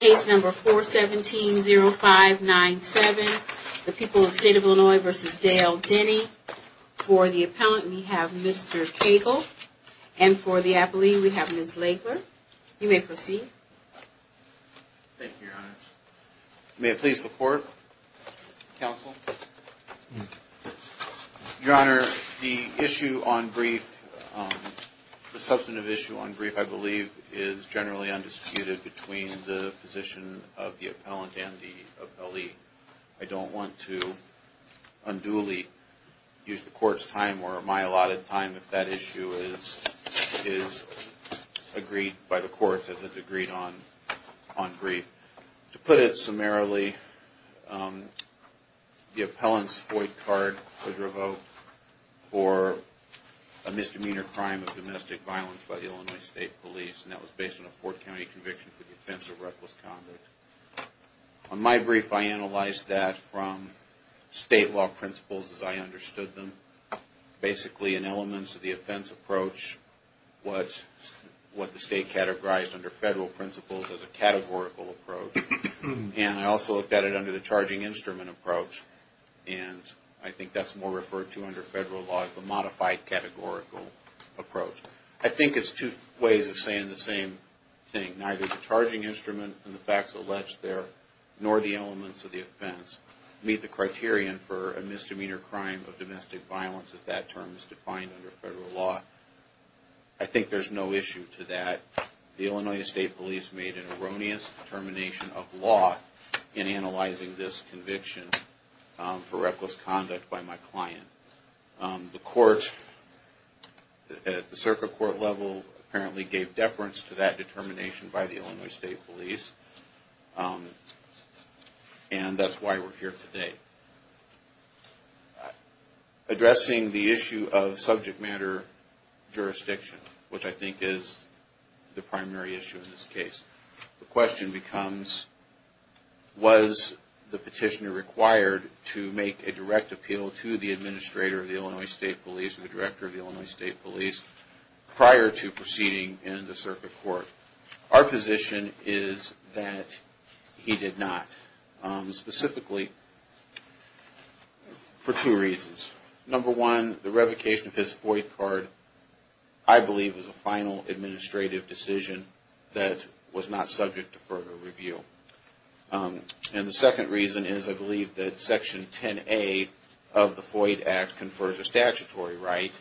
Case number 417-0597, the people of the state of Illinois v. Dale Denny. For the appellant, we have Mr. Cagle. And for the appellee, we have Ms. Lagler. You may proceed. Thank you, Your Honor. May I please report? Counsel? Your Honor, the issue on brief, the substantive issue on brief, I believe, is generally undisputed between the position of the appellant and the appellee. I don't want to unduly use the court's time or my allotted time if that issue is agreed by the court as it's agreed on brief. To put it summarily, the appellant's FOIA card was revoked for a misdemeanor crime of domestic violence by the Illinois State Police, and that was based on a Fort County conviction for the offense of reckless conduct. On my brief, I analyzed that from state law principles as I understood them, basically in elements of the offense approach, what the state categorized under federal principles as a categorical approach. And I also looked at it under the charging instrument approach, and I think that's more referred to under federal law as the modified categorical approach. I think it's two ways of saying the same thing. Neither the charging instrument and the facts alleged there, nor the elements of the offense, meet the criterion for a misdemeanor crime of domestic violence as that term is defined under federal law. I think there's no issue to that. The Illinois State Police made an erroneous determination of law in analyzing this conviction for reckless conduct by my client. The circuit court level apparently gave deference to that determination by the Illinois State Police, and that's why we're here today. Addressing the issue of subject matter jurisdiction, which I think is the primary issue in this case. The question becomes, was the petitioner required to make a direct appeal to the administrator of the Illinois State Police or the director of the Illinois State Police prior to proceeding in the circuit court? Our position is that he did not, specifically for two reasons. Number one, the revocation of his FOIA card, I believe, is a final administrative decision that was not subject to further review. And the second reason is I believe that Section 10A of the FOIA Act confers a statutory right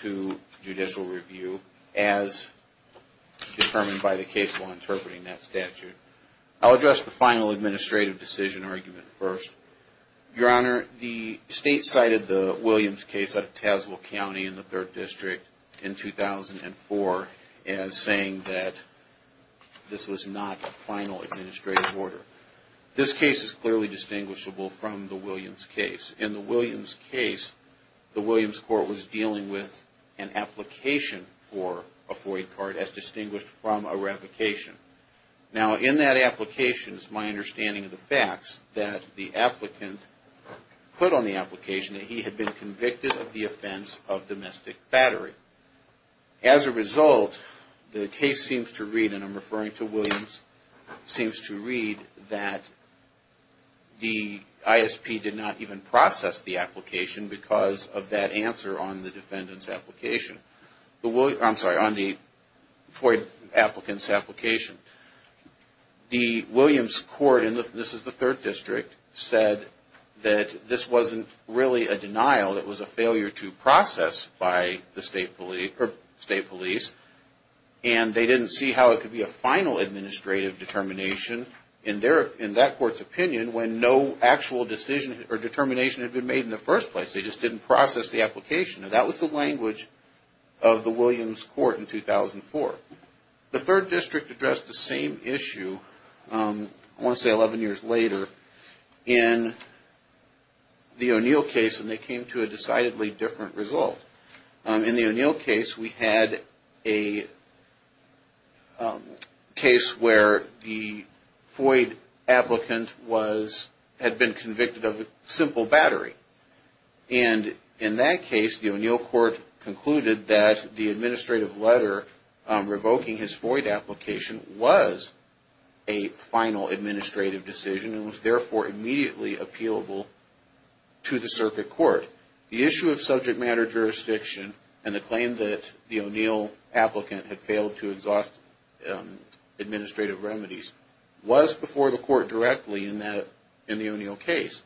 to judicial review as determined by the case law interpreting that statute. I'll address the final administrative decision argument first. Your Honor, the State cited the Williams case out of Tazewell County in the 3rd District in 2004 as saying that this was not a final administrative order. This case is clearly distinguishable from the Williams case. In the Williams case, the Williams court was dealing with an application for a FOIA card as distinguished from a revocation. Now, in that application, it's my understanding of the facts that the applicant put on the application that he had been convicted of the offense of domestic battery. As a result, the case seems to read, and I'm referring to Williams, seems to read that the ISP did not even process the application because of that answer on the defendant's application. I'm sorry, on the FOIA applicant's application. The Williams court, and this is the 3rd District, said that this wasn't really a denial. It was a failure to process by the State police. And they didn't see how it could be a final administrative determination in that court's opinion when no actual decision or determination had been made in the first place. They just didn't process the application. Now, that was the language of the Williams court in 2004. The 3rd District addressed the same issue, I want to say 11 years later, in the O'Neill case, and they came to a decidedly different result. In the O'Neill case, we had a case where the FOIA applicant had been convicted of simple battery. And in that case, the O'Neill court concluded that the administrative letter revoking his FOIA application was a final administrative decision and was therefore immediately appealable to the circuit court. The issue of subject matter jurisdiction and the claim that the O'Neill applicant had failed to exhaust administrative remedies was before the court directly in the O'Neill case.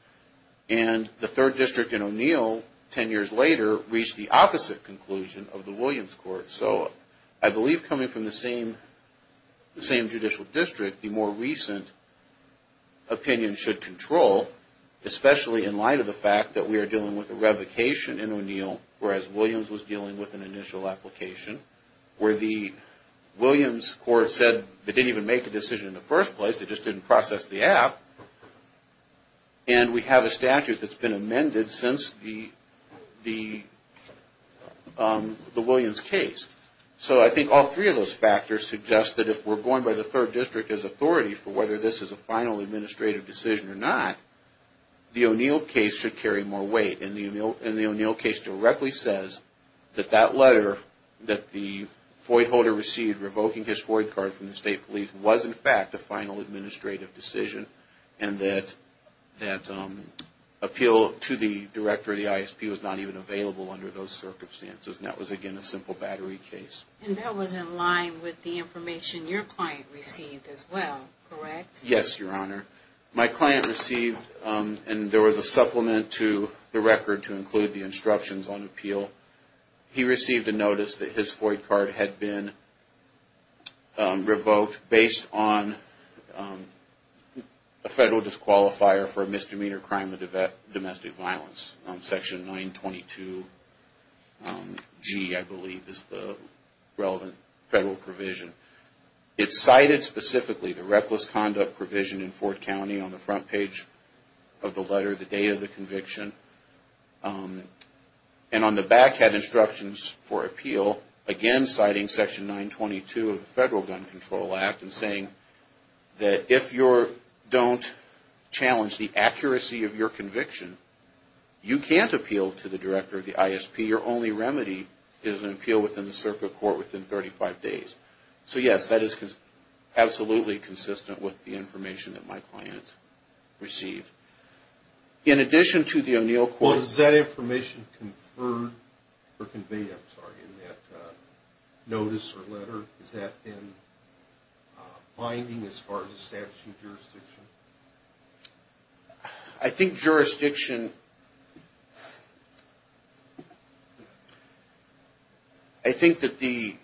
And the 3rd District in O'Neill, 10 years later, reached the opposite conclusion of the Williams court. So, I believe coming from the same judicial district, the more recent opinion should control, especially in light of the fact that we are dealing with a revocation in O'Neill, whereas Williams was dealing with an initial application where the Williams court said they didn't even make a decision in the first place, they just didn't process the app, and we have a statute that's been amended since the Williams case. So, I think all three of those factors suggest that if we're going by the 3rd District as authority for whether this is a final administrative decision or not, the O'Neill case should carry more weight. And the O'Neill case directly says that that letter that the FOIA holder received revoking his FOIA card from the state police was in fact a final administrative decision and that appeal to the director of the ISP was not even available under those circumstances. And that was again a simple battery case. And that was in line with the information your client received as well, correct? Yes, Your Honor. My client received, and there was a supplement to the record to include the instructions on appeal, he received a notice that his FOIA card had been revoked based on a federal disqualifier for a misdemeanor crime of domestic violence, section 922G I believe is the relevant federal provision. It cited specifically the reckless conduct provision in Ford County on the front page of the letter, the date of the conviction, and on the back had instructions for appeal, again citing section 922 of the Federal Gun Control Act and saying that if you don't challenge the accuracy of your conviction, you can't appeal to the director of the ISP. And your only remedy is an appeal within the circuit court within 35 days. So yes, that is absolutely consistent with the information that my client received. In addition to the O'Neill court... Well, is that information conferred or conveyed, I'm sorry, in that notice or letter? Is that in binding as far as establishing jurisdiction? I think jurisdiction... I think that the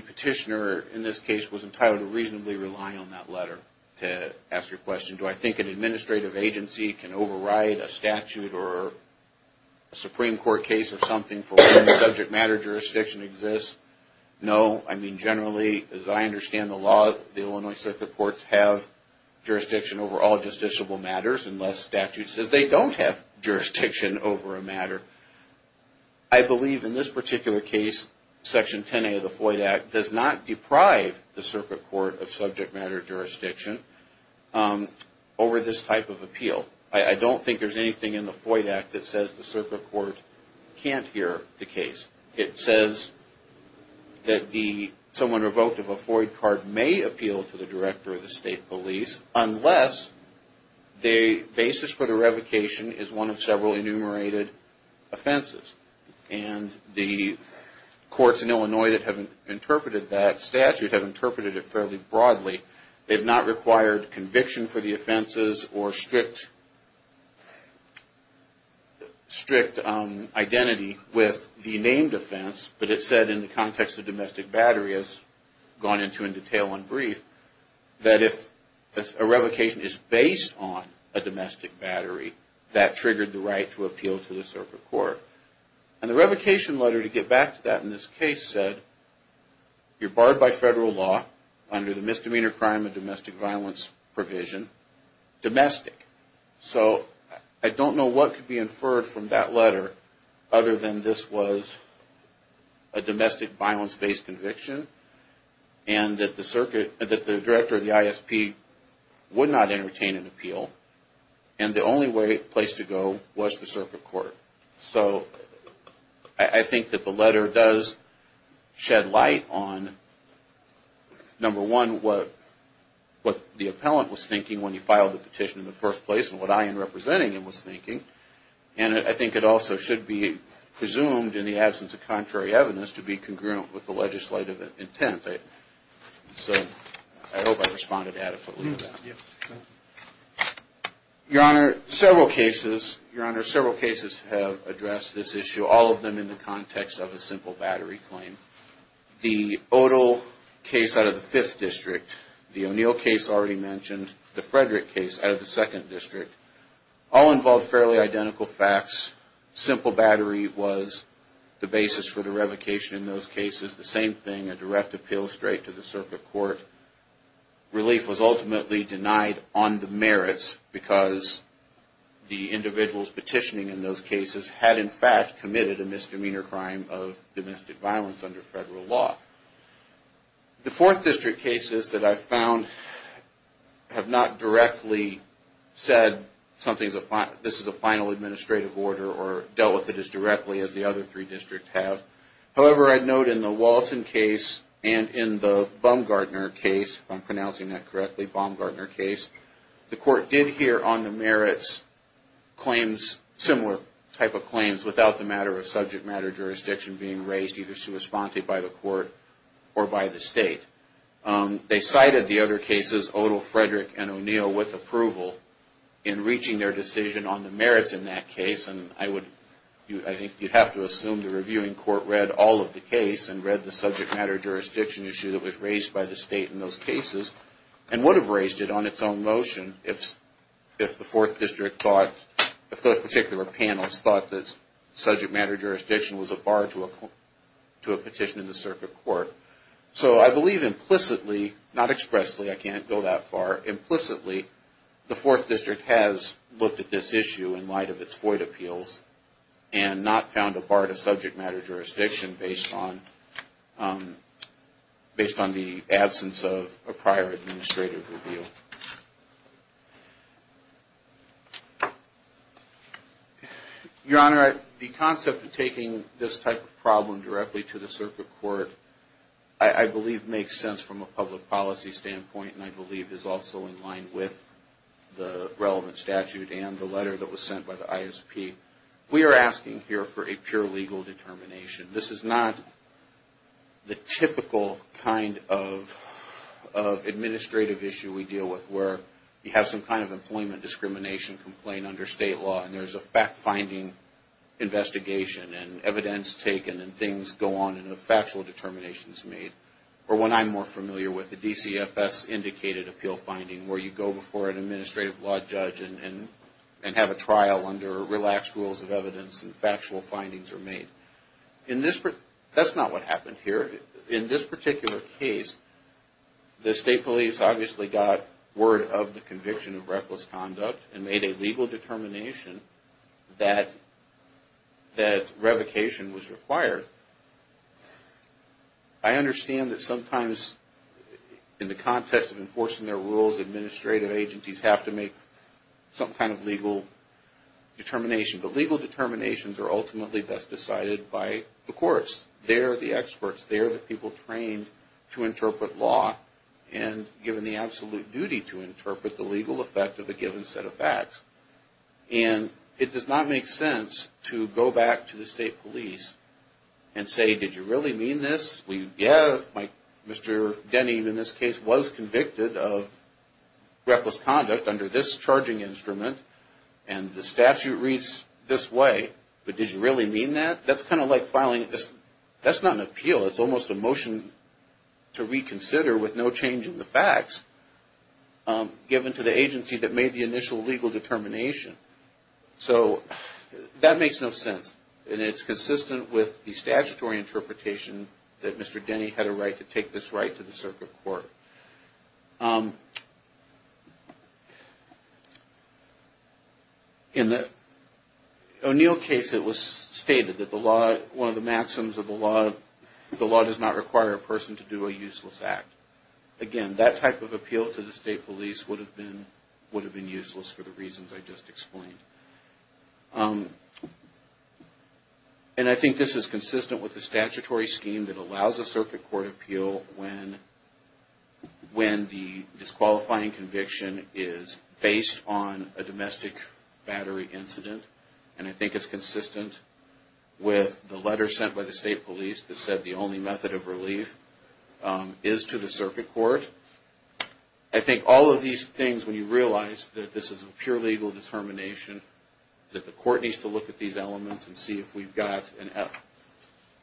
petitioner in this case was entitled to reasonably rely on that letter to ask a question. Do I think an administrative agency can override a statute or a Supreme Court case or something for when subject matter jurisdiction exists? No. I mean, generally, as I understand the law, the Illinois circuit courts have jurisdiction over all justiciable matters unless statute says they don't have jurisdiction over a matter. I believe in this particular case, section 10A of the FOIA Act does not deprive the circuit court of subject matter jurisdiction over this type of appeal. I don't think there's anything in the FOIA Act that says the circuit court can't hear the case. It says that someone revoked of a FOIA card may appeal to the director of the state police unless the basis for the revocation is one of several enumerated offenses. And the courts in Illinois that have interpreted that statute have interpreted it fairly broadly. They've not required conviction for the offenses or strict identity with the named offense. But it said in the context of domestic battery, as gone into in detail and brief, that if a revocation is based on a domestic battery, that triggered the right to appeal to the circuit court. And the revocation letter, to get back to that in this case, said you're barred by federal law under the misdemeanor crime of domestic violence provision, domestic. So I don't know what could be inferred from that letter other than this was a domestic violence-based conviction and that the director of the ISP would not entertain an appeal. And the only place to go was the circuit court. So I think that the letter does shed light on, number one, what the appellant was thinking when he filed the petition in the first place and what I, in representing him, was thinking. And I think it also should be presumed, in the absence of contrary evidence, to be congruent with the legislative intent. So I hope I responded adequately to that. Your Honor, several cases have addressed this issue, all of them in the context of a simple battery claim. The Odole case out of the 5th District, the O'Neill case already mentioned, the Frederick case out of the 2nd District, all involved fairly identical facts. Simple battery was the basis for the revocation in those cases. The same thing, a direct appeal straight to the circuit court. Relief was ultimately denied on the merits because the individuals petitioning in those cases had, in fact, committed a misdemeanor crime of domestic violence under federal law. The 4th District cases that I've found have not directly said this is a final administrative order or dealt with it as directly as the other three districts have. However, I'd note in the Walton case and in the Baumgartner case, if I'm pronouncing that correctly, Baumgartner case, the court did hear on the merits claims, similar type of claims, without the matter of subject matter jurisdiction being raised either sui sponte by the court or by the state. They cited the other cases, Odole, Frederick, and O'Neill, with approval in reaching their decision on the merits in that case. And I would, I think you'd have to assume the reviewing court read all of the case and read the subject matter jurisdiction issue that was raised by the state in those cases and would have raised it on its own motion if the 4th District thought, if those particular panels thought that subject matter jurisdiction was a bar to a petition in the circuit court. So I believe implicitly, not expressly, I can't go that far, implicitly, the 4th District has looked at this issue in light of its FOIA appeals and not found a bar to subject matter jurisdiction based on the absence of a prior administrative review. Your Honor, the concept of taking this type of problem directly to the circuit court, I believe makes sense from a public policy standpoint and I believe is also in line with the relevant statute and the letter that was sent by the ISP. We are asking here for a pure legal determination. This is not the typical kind of administrative issue we deal with where you have some kind of employment discrimination complaint under state law and there's a fact-finding investigation and evidence taken and things go on and a factual determination is made. Or what I'm more familiar with, the DCFS indicated appeal finding where you go before an administrative law judge and have a trial under relaxed rules of evidence and factual findings are made. That's not what happened here. In this particular case, the state police obviously got word of the conviction of reckless conduct and made a legal determination that revocation was required. I understand that sometimes in the context of enforcing their rules, administrative agencies have to make some kind of legal determination. But legal determinations are ultimately best decided by the courts. They are the experts. They are the people trained to interpret law and given the absolute duty to interpret the legal effect of a given set of facts. And it does not make sense to go back to the state police and say, did you really mean this? Yeah, Mr. Denny in this case was convicted of reckless conduct under this charging instrument and the statute reads this way, but did you really mean that? That's kind of like filing this. That's not an appeal. It's almost a motion to reconsider with no change in the facts given to the agency that made the initial legal determination. So that makes no sense. And it's consistent with the statutory interpretation that Mr. Denny had a right to take this right to the circuit court. In the O'Neill case, it was stated that one of the maxims of the law, the law does not require a person to do a useless act. Again, that type of appeal to the state police would have been useless for the reasons I just explained. And I think this is consistent with the statutory scheme that allows a circuit court appeal when the disqualifying conviction is based on a domestic battery incident. And I think it's consistent with the letter sent by the state police that said the only method of relief is to the circuit court. I think all of these things, when you realize that this is a pure legal determination, that the court needs to look at these elements and see if we've got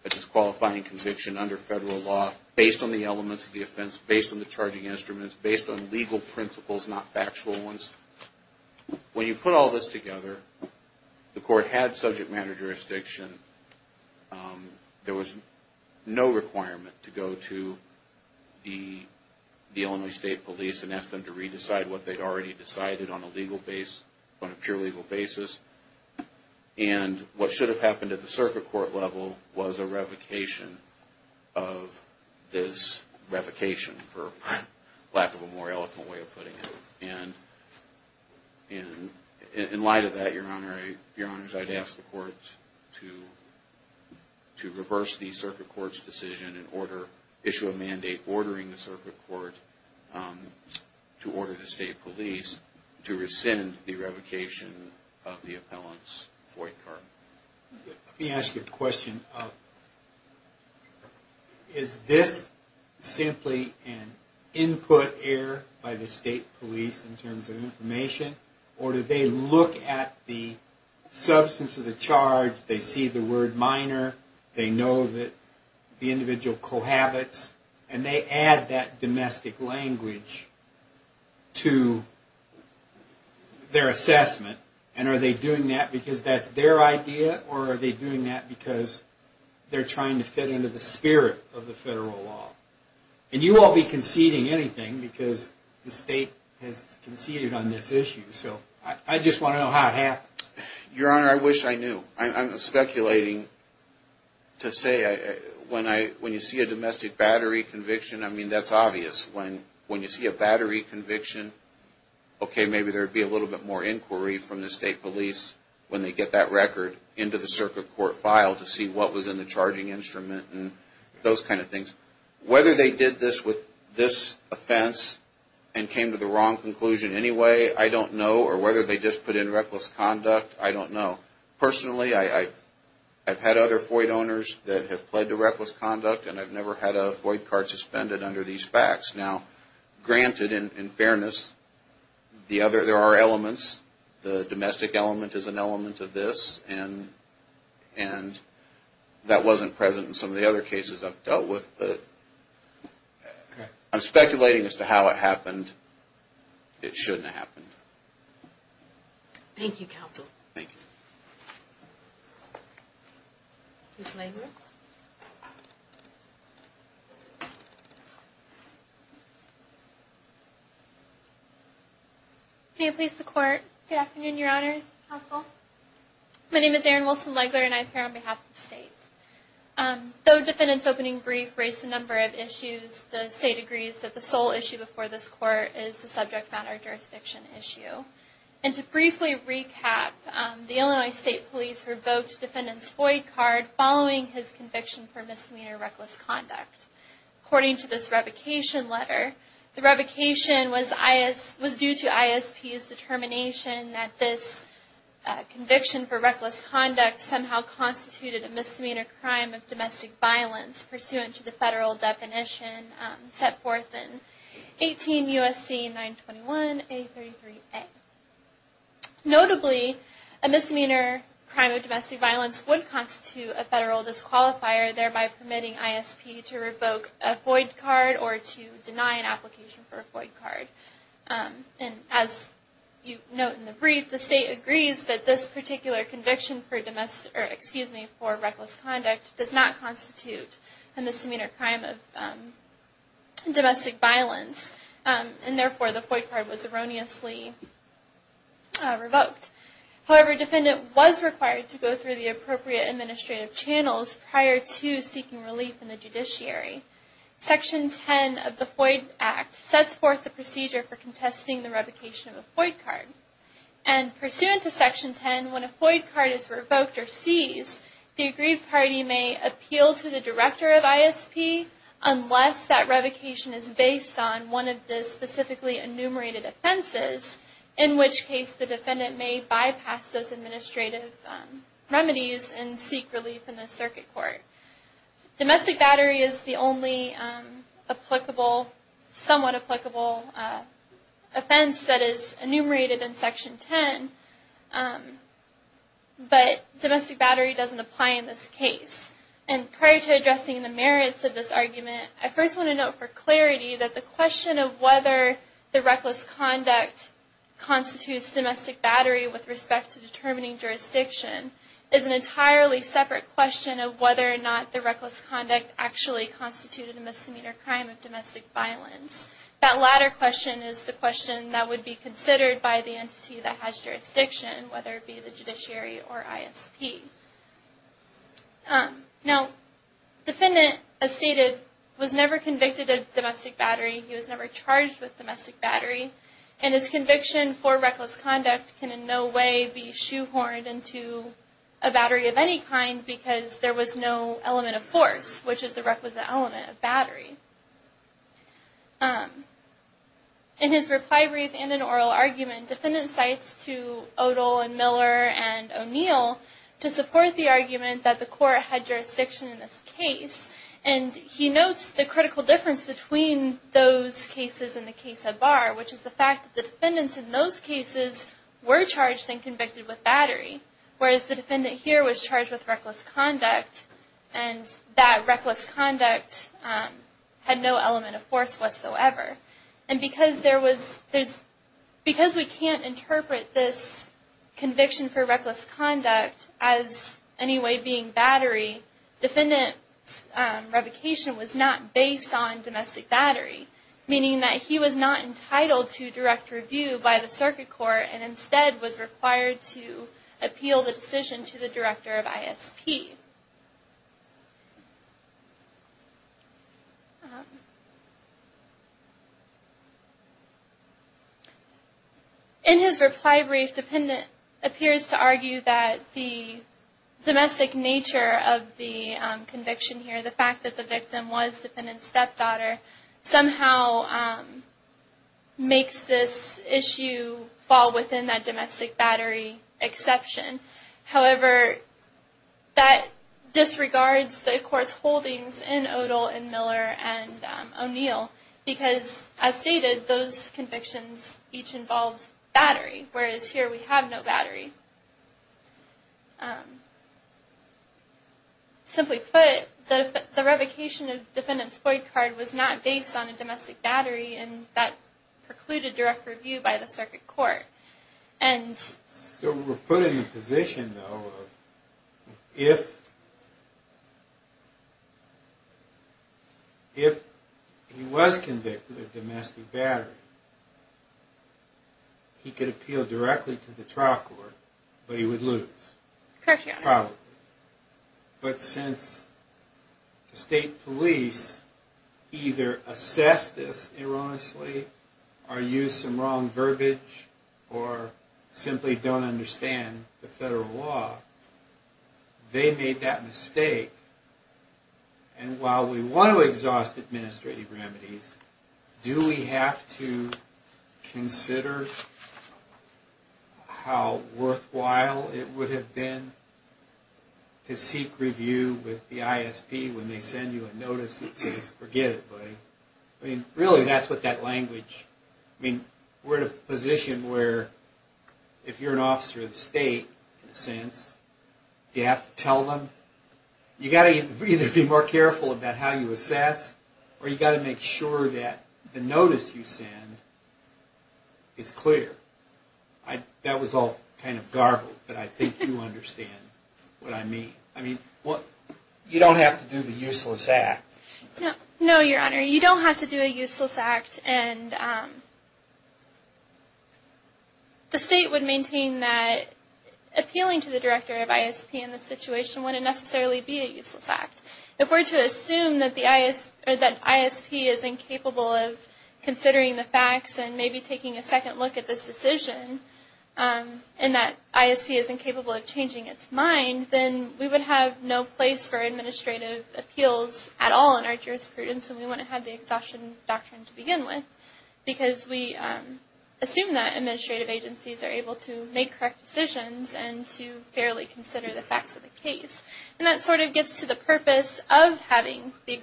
a disqualifying conviction under federal law, based on the elements of the offense, based on the charging instruments, based on legal principles, not factual ones. When you put all this together, the court had subject matter jurisdiction. There was no requirement to go to the Illinois State Police and ask them to re-decide what they already decided on a pure legal basis. And what should have happened at the circuit court level was a revocation of this revocation, for lack of a more eloquent way of putting it. And in light of that, Your Honor, I'd ask the court to reverse the circuit court's decision and issue a mandate ordering the circuit court to order the state police to rescind the revocation of the appellant's FOIA card. Let me ask you a question. Is this simply an input error by the state police in terms of information, or do they look at the substance of the charge, they see the word FOIA, or are they doing that because they're trying to fit into the spirit of the federal law? And you won't be conceding anything because the state has conceded on this issue. So, I just want to know how it happens. Your Honor, I wish I knew. I'm speculating to say when you see a domestic battery conviction, I mean, that's obvious. When you see a battery conviction, okay, maybe there would be a little bit more inquiry from the state police when they get that record into the circuit court file to see what was in the charging instrument and those kind of things. Whether they did this with this offense and came to the wrong conclusion anyway, I don't know. Or whether they just put in reckless conduct, I don't know. Personally, I've had other FOIA owners that have pled to reckless conduct, and I've never had a FOIA card suspended under these facts. Now, granted, in fairness, there are elements. The domestic element is an element of this, and that wasn't present in some of the other cases I've dealt with, but I'm speculating as to how it happened. It shouldn't have happened. Thank you, Counsel. Thank you. Ms. Legler? May it please the Court? Good afternoon, Your Honors. Counsel? My name is Erin Wilson-Legler, and I appear on behalf of the state. Though the defendant's opening brief raised a number of issues, the state agrees that the sole issue before this Court is the subject matter jurisdiction issue. And to briefly recap, the Illinois State Police revoked the defendant's FOIA card following his conviction for misdemeanor reckless conduct. According to this revocation letter, the revocation was due to ISP's determination that this conviction for reckless conduct somehow constituted a misdemeanor crime of domestic violence, pursuant to the federal definition set forth in 18 U.S.C. 921a33a. Notably, a misdemeanor crime of domestic violence would constitute a federal disqualifier, thereby permitting ISP to revoke a FOIA card or to deny an application for a FOIA card. And as you note in the brief, the state agrees that this particular conviction for reckless conduct does not constitute a misdemeanor crime of domestic violence, and therefore the FOIA card was erroneously revoked. However, the defendant was required to go through the appropriate administrative channels prior to seeking relief in the judiciary. Section 10 of the FOIA Act sets forth the procedure for contesting the revocation of a FOIA card. And pursuant to Section 10, when a FOIA card is revoked or seized, the agreed party may appeal to the director of ISP, unless that revocation is based on one of the specifically enumerated offenses, in which case the defendant may bypass those administrative remedies and seek relief in the circuit court. Domestic battery is the only somewhat applicable offense that is enumerated in Section 10, but domestic battery doesn't apply in this case. And prior to addressing the merits of this argument, I first want to note for clarity that the question of whether the reckless conduct constitutes domestic battery with respect to determining jurisdiction is an entirely separate question of whether or not the reckless conduct actually constituted a misdemeanor crime of domestic violence. That latter question is the question that would be considered by the entity that has jurisdiction, whether it be the judiciary or ISP. Now, the defendant, as stated, was never convicted of domestic battery, he was never charged with domestic battery, and his conviction for reckless conduct can in no way be shoehorned into a battery of any kind because there was no element of force, which is the requisite element of battery. In his reply brief and in oral argument, defendant cites to Odole and Miller and O'Neill to support the argument that the court had jurisdiction in this case, and he notes the critical difference between those cases and the case of Barr, which is the fact that the defendants in those cases were charged and convicted with battery, whereas the defendant here was charged with reckless conduct and that reckless conduct had no element of force whatsoever. And because we can't interpret this conviction for reckless conduct as any way being battery, defendant's revocation was not based on domestic battery, meaning that he was not entitled to direct review by the circuit court and instead was required to appeal the decision to the director of ISP. In his reply brief, defendant appears to argue that the domestic nature of the conviction here, the fact that the victim was defendant's stepdaughter, somehow makes this issue fall within that domestic battery exception. However, that disregards the court's holdings in Odole and Miller and O'Neill, because as stated, those convictions each involved battery, whereas here we have no battery. Simply put, the revocation of defendant's void card was not based on a domestic battery, and that precluded direct review by the circuit court. So we're put in the position, though, of if he was convicted of domestic battery, he could appeal directly to the trial court, but he would lose. Probably. But since the state police either assess this erroneously, or use some wrong verbiage, or simply don't understand the federal law, they made that mistake. And while we want to exhaust administrative remedies, do we have to consider how worthwhile it would have been to seek review with the ISP when they send you a notice that says, forget it, buddy. Really, that's what that language... We're in a position where, if you're an officer of the state, in a sense, do you have to tell them? You've got to either be more careful about how you assess, or you've got to make sure that the notice you send is clear. That was all kind of garbled, but I think you understand what I mean. I mean, you don't have to do the useless act. No, Your Honor, you don't have to do a useless act, and the state would maintain that appealing to the director of ISP in this situation wouldn't necessarily be a useless act. If we're to assume that ISP is incapable of considering the facts and maybe taking a second look at this decision, and that ISP is incapable of changing its mind, then we would have no place for administrative appeals at all in our jurisprudence, and we wouldn't have the Exhaustion Doctrine to begin with, because we assume that administrative agencies are able to make correct decisions and to fairly consider the facts of the case. And that sort of gets to the purpose of having the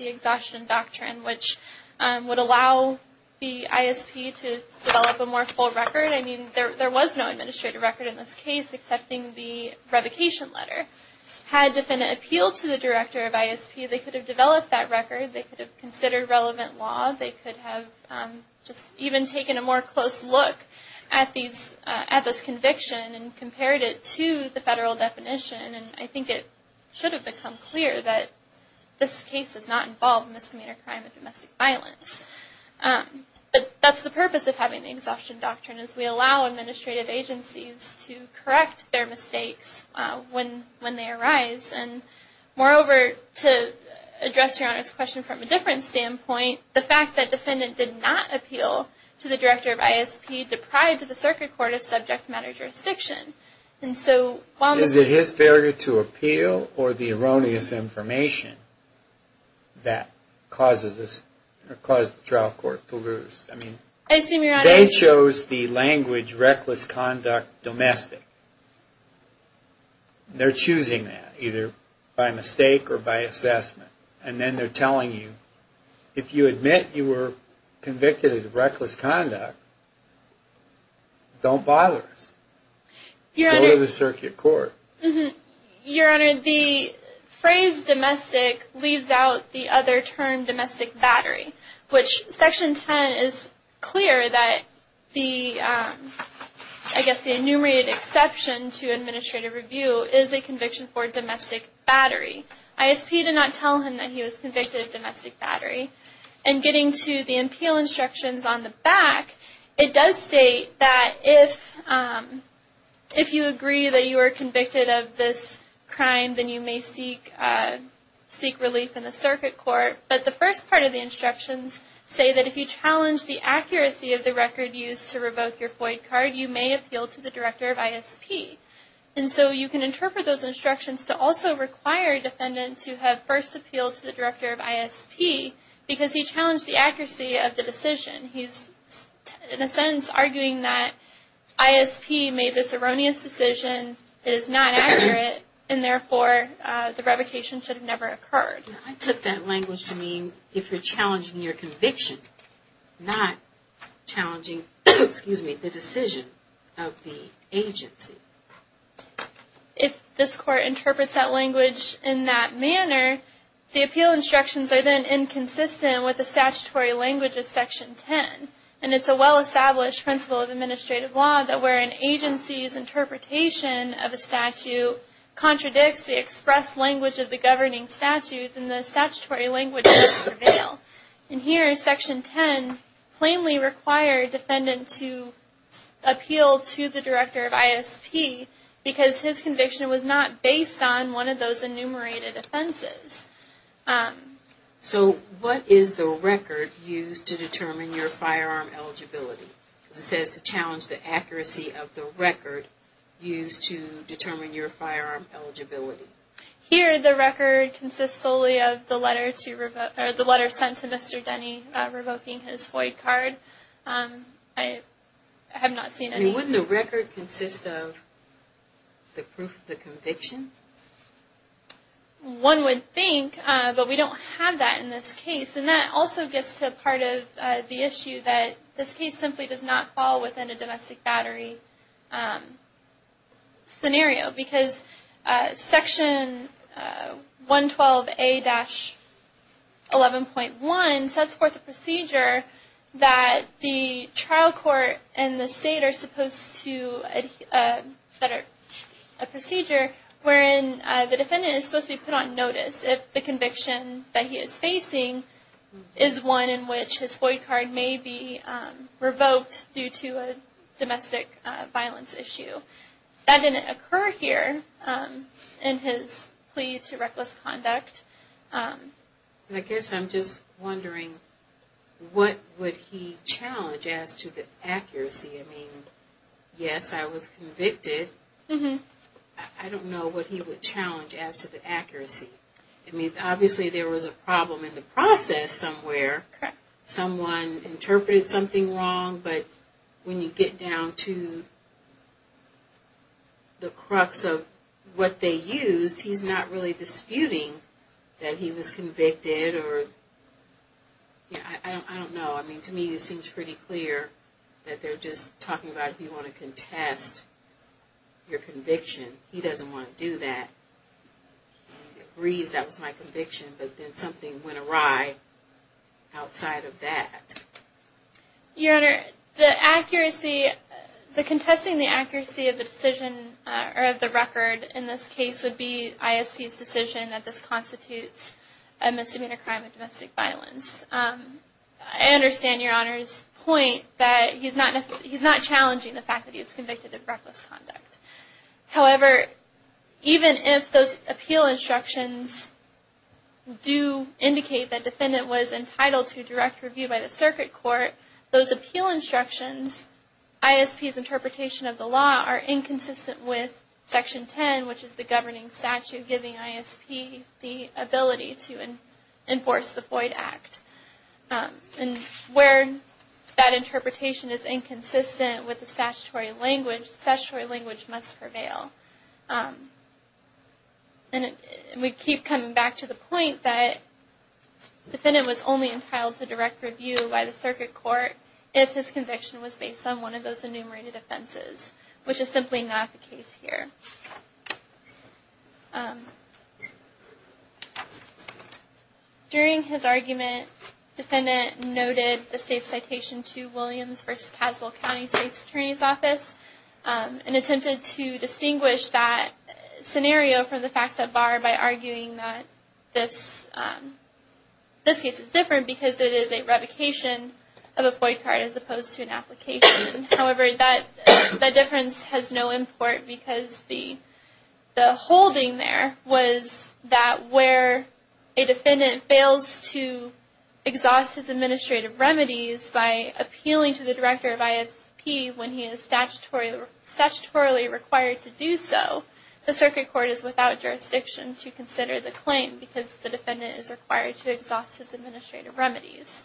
Exhaustion Doctrine, which would allow the ISP to develop a more full record. I mean, there was no administrative record in this case, excepting the revocation letter. Had a defendant appealed to the director of ISP, they could have developed that record, they could have considered relevant law, they could have just even taken a more close look at this conviction and compared it to the federal definition, and I think it should have become clear that this case is not involved in misdemeanor crime and domestic violence. But that's the purpose of having the Exhaustion Doctrine, is we allow administrative agencies to correct their mistakes when they arise. Moreover, to address Your Honor's question from a different standpoint, the fact that the defendant did not appeal to the director of ISP deprived the circuit court of subject matter jurisdiction. Is it his failure to appeal or the erroneous information that caused the trial court to lose? They chose the language reckless conduct domestic. They're choosing that, either by mistake or by assessment. And then they're telling you, if you admit you were convicted of reckless conduct, don't bother us. Go to the circuit court. Your Honor, the phrase domestic leaves out the other term domestic battery, which section 10 is clear that the enumerated exception to administrative review is a conviction for domestic battery. ISP did not tell him that he was convicted of domestic battery. And getting to the appeal instructions on the back, it does state that if you agree that you were convicted of this crime, then you may seek relief in the circuit court. But the first part of the instructions say that if you challenge the accuracy of the record used to revoke your FOID card, you may appeal to the director of ISP. And so you can interpret those instructions to also require a defendant to have first appealed to the director of ISP because he challenged the accuracy of the decision. He's, in a sense, arguing that ISP made this erroneous decision, it is not accurate, and therefore the revocation should have never occurred. I took that language to mean if you're challenging your conviction, not challenging the decision of the agency. If this court interprets that language in that manner, the appeal instructions are then inconsistent with the statutory language of section 10. And it's a well-established principle of administrative law that where an agency's interpretation of a statute contradicts the express language of the governing statute, then the statutory language does prevail. And here, section 10 plainly required a defendant to appeal to the director of ISP because his conviction was not based on one of those enumerated offenses. So what is the record used to determine your firearm eligibility? Because it says to challenge the accuracy of the record used to determine your firearm eligibility. Here, the record consists solely of the letter sent to Mr. Denny revoking his FOIA card. I have not seen any... I mean, wouldn't the record consist of the proof of the conviction? One would think, but we don't have that in this case. And that also gets to part of the issue that this case simply does not fall within a domestic battery scenario. Because section 112A-11.1 sets forth a procedure that the trial court and the state are supposed to... a procedure wherein the defendant is supposed to be put on notice if the conviction that he is facing is one in which his FOIA card may be revoked due to a domestic violence issue. That didn't occur here in his plea to reckless conduct. I guess I'm just wondering, what would he challenge as to the accuracy? I mean, yes, I was convicted. I don't know what he would challenge as to the accuracy. I mean, obviously there was a problem in the process somewhere. Someone interpreted something wrong, but when you get down to the crux of what they used, he's not really disputing that he was convicted. I don't know. I mean, to me it seems pretty clear that they're just talking about if you want to contest your conviction. He doesn't want to do that. He agrees that was my conviction, but then something went awry outside of that. Your Honor, the accuracy... The contesting the accuracy of the decision, or of the record in this case, would be ISP's decision that this constitutes a misdemeanor crime of domestic violence. I understand Your Honor's point that he's not challenging the fact that he was convicted of reckless conduct. However, even if those appeal instructions do indicate that the defendant was entitled to direct review by the circuit court, those appeal instructions, ISP's interpretation of the law, are inconsistent with Section 10, which is the governing statute giving ISP the ability to enforce the Floyd Act. And where that interpretation is inconsistent with the statutory language, the statutory language must prevail. And we keep coming back to the point that the defendant was only entitled to direct review by the circuit court if his conviction was based on one of those enumerated offenses, which is simply not the case here. During his argument, the defendant noted the state citation to Williams v. Caswell County State's Attorney's Office and attempted to distinguish that scenario from the facts at bar by arguing that this case is different because it is a revocation of a Floyd card as opposed to an application. However, that difference has no import because the holding there was that where a defendant fails to exhaust his administrative remedies by appealing to the director of ISP when he is statutorily required to do so, the circuit court is without jurisdiction to consider the claim because the defendant is required to exhaust his administrative remedies.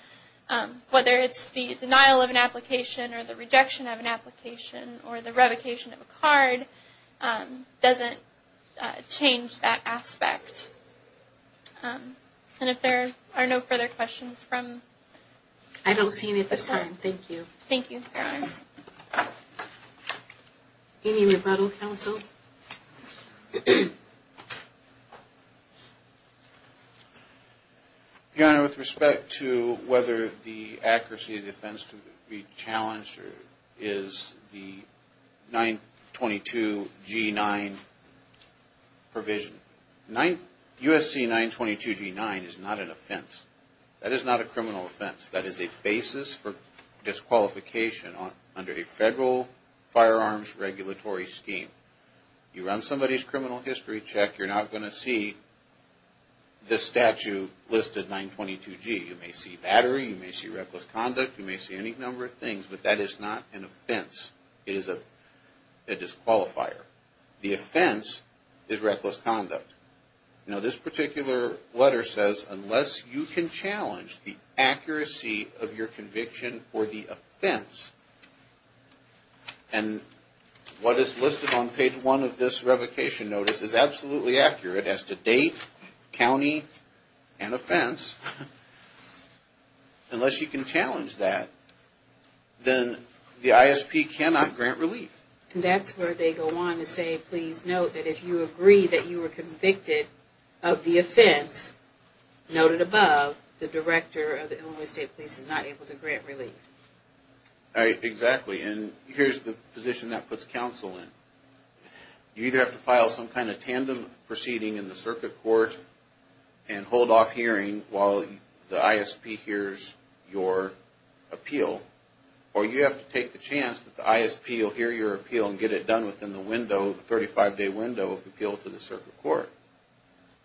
Whether it's the denial of an application or the rejection of an application or the revocation of a card, it doesn't change that aspect. And if there are no further questions from... I don't see any at this time. Thank you. Thank you, Your Honors. Any rebuttal, counsel? Your Honor, with respect to whether the accuracy of the offense to be challenged is the 922G9 provision. USC 922G9 is not an offense. That is not a criminal offense. That is a basis for disqualification under a federal firearms regulatory scheme. You run somebody's criminal history check, you're not going to see the statute listed 922G. You may see battery, you may see reckless conduct, you may see any number of things, but that is not an offense. It is a disqualifier. The offense is reckless conduct. Now this particular letter says, unless you can challenge the accuracy of your conviction for the offense, and what is listed on page one of this revocation notice is absolutely accurate as to date, county, and offense. Unless you can challenge that, then the ISP cannot grant relief. And that's where they go on to say, please note that if you agree that you were convicted of the offense, noted above, the director of the Illinois State Police is not able to grant relief. Exactly, and here's the position that puts counsel in. You either have to file some kind of tandem proceeding in the circuit court and hold off hearing while the ISP hears your appeal, or you have to take the chance that the ISP will hear your appeal and get it done within the window, the 35-day window of appeal to the circuit court.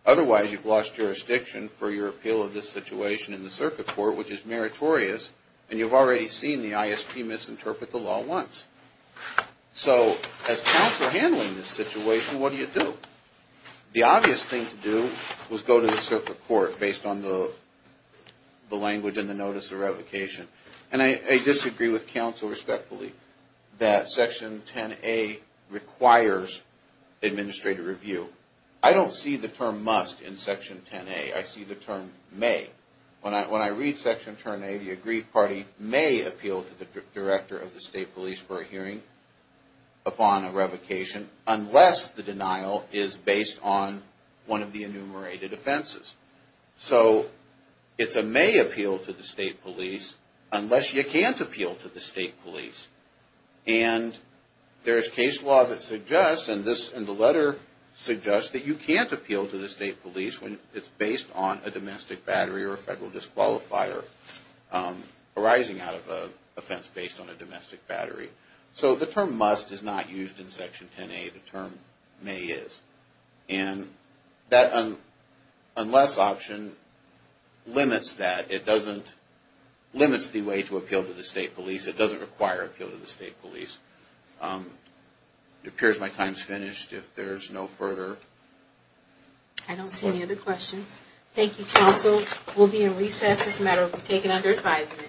Otherwise, you've lost jurisdiction for your appeal of this situation in the circuit court, which is meritorious, and you've already seen the ISP misinterpret the law once. So as counsel handling this situation, what do you do? The obvious thing to do was go to the circuit court based on the language in the notice of revocation. And I disagree with counsel respectfully that Section 10A requires administrative review. I don't see the term must in Section 10A. I see the term may. When I read Section 10A, the agreed party may appeal to the director of the state police for a hearing upon a revocation, unless the denial is based on one of the enumerated offenses. So it's a may appeal to the state police unless you can't appeal to the state police. And there is case law that suggests, and the letter suggests that you can't appeal to the state police when it's based on a domestic battery or a federal disqualifier arising out of an offense based on a domestic battery. So the term must is not used in Section 10A. The term may is. And that unless option limits that. It doesn't limit the way to appeal to the state police. It doesn't require appeal to the state police. It appears my time is finished. If there's no further... I don't see any other questions. Thank you, counsel. We'll be in recess. This matter will be taken under advisement.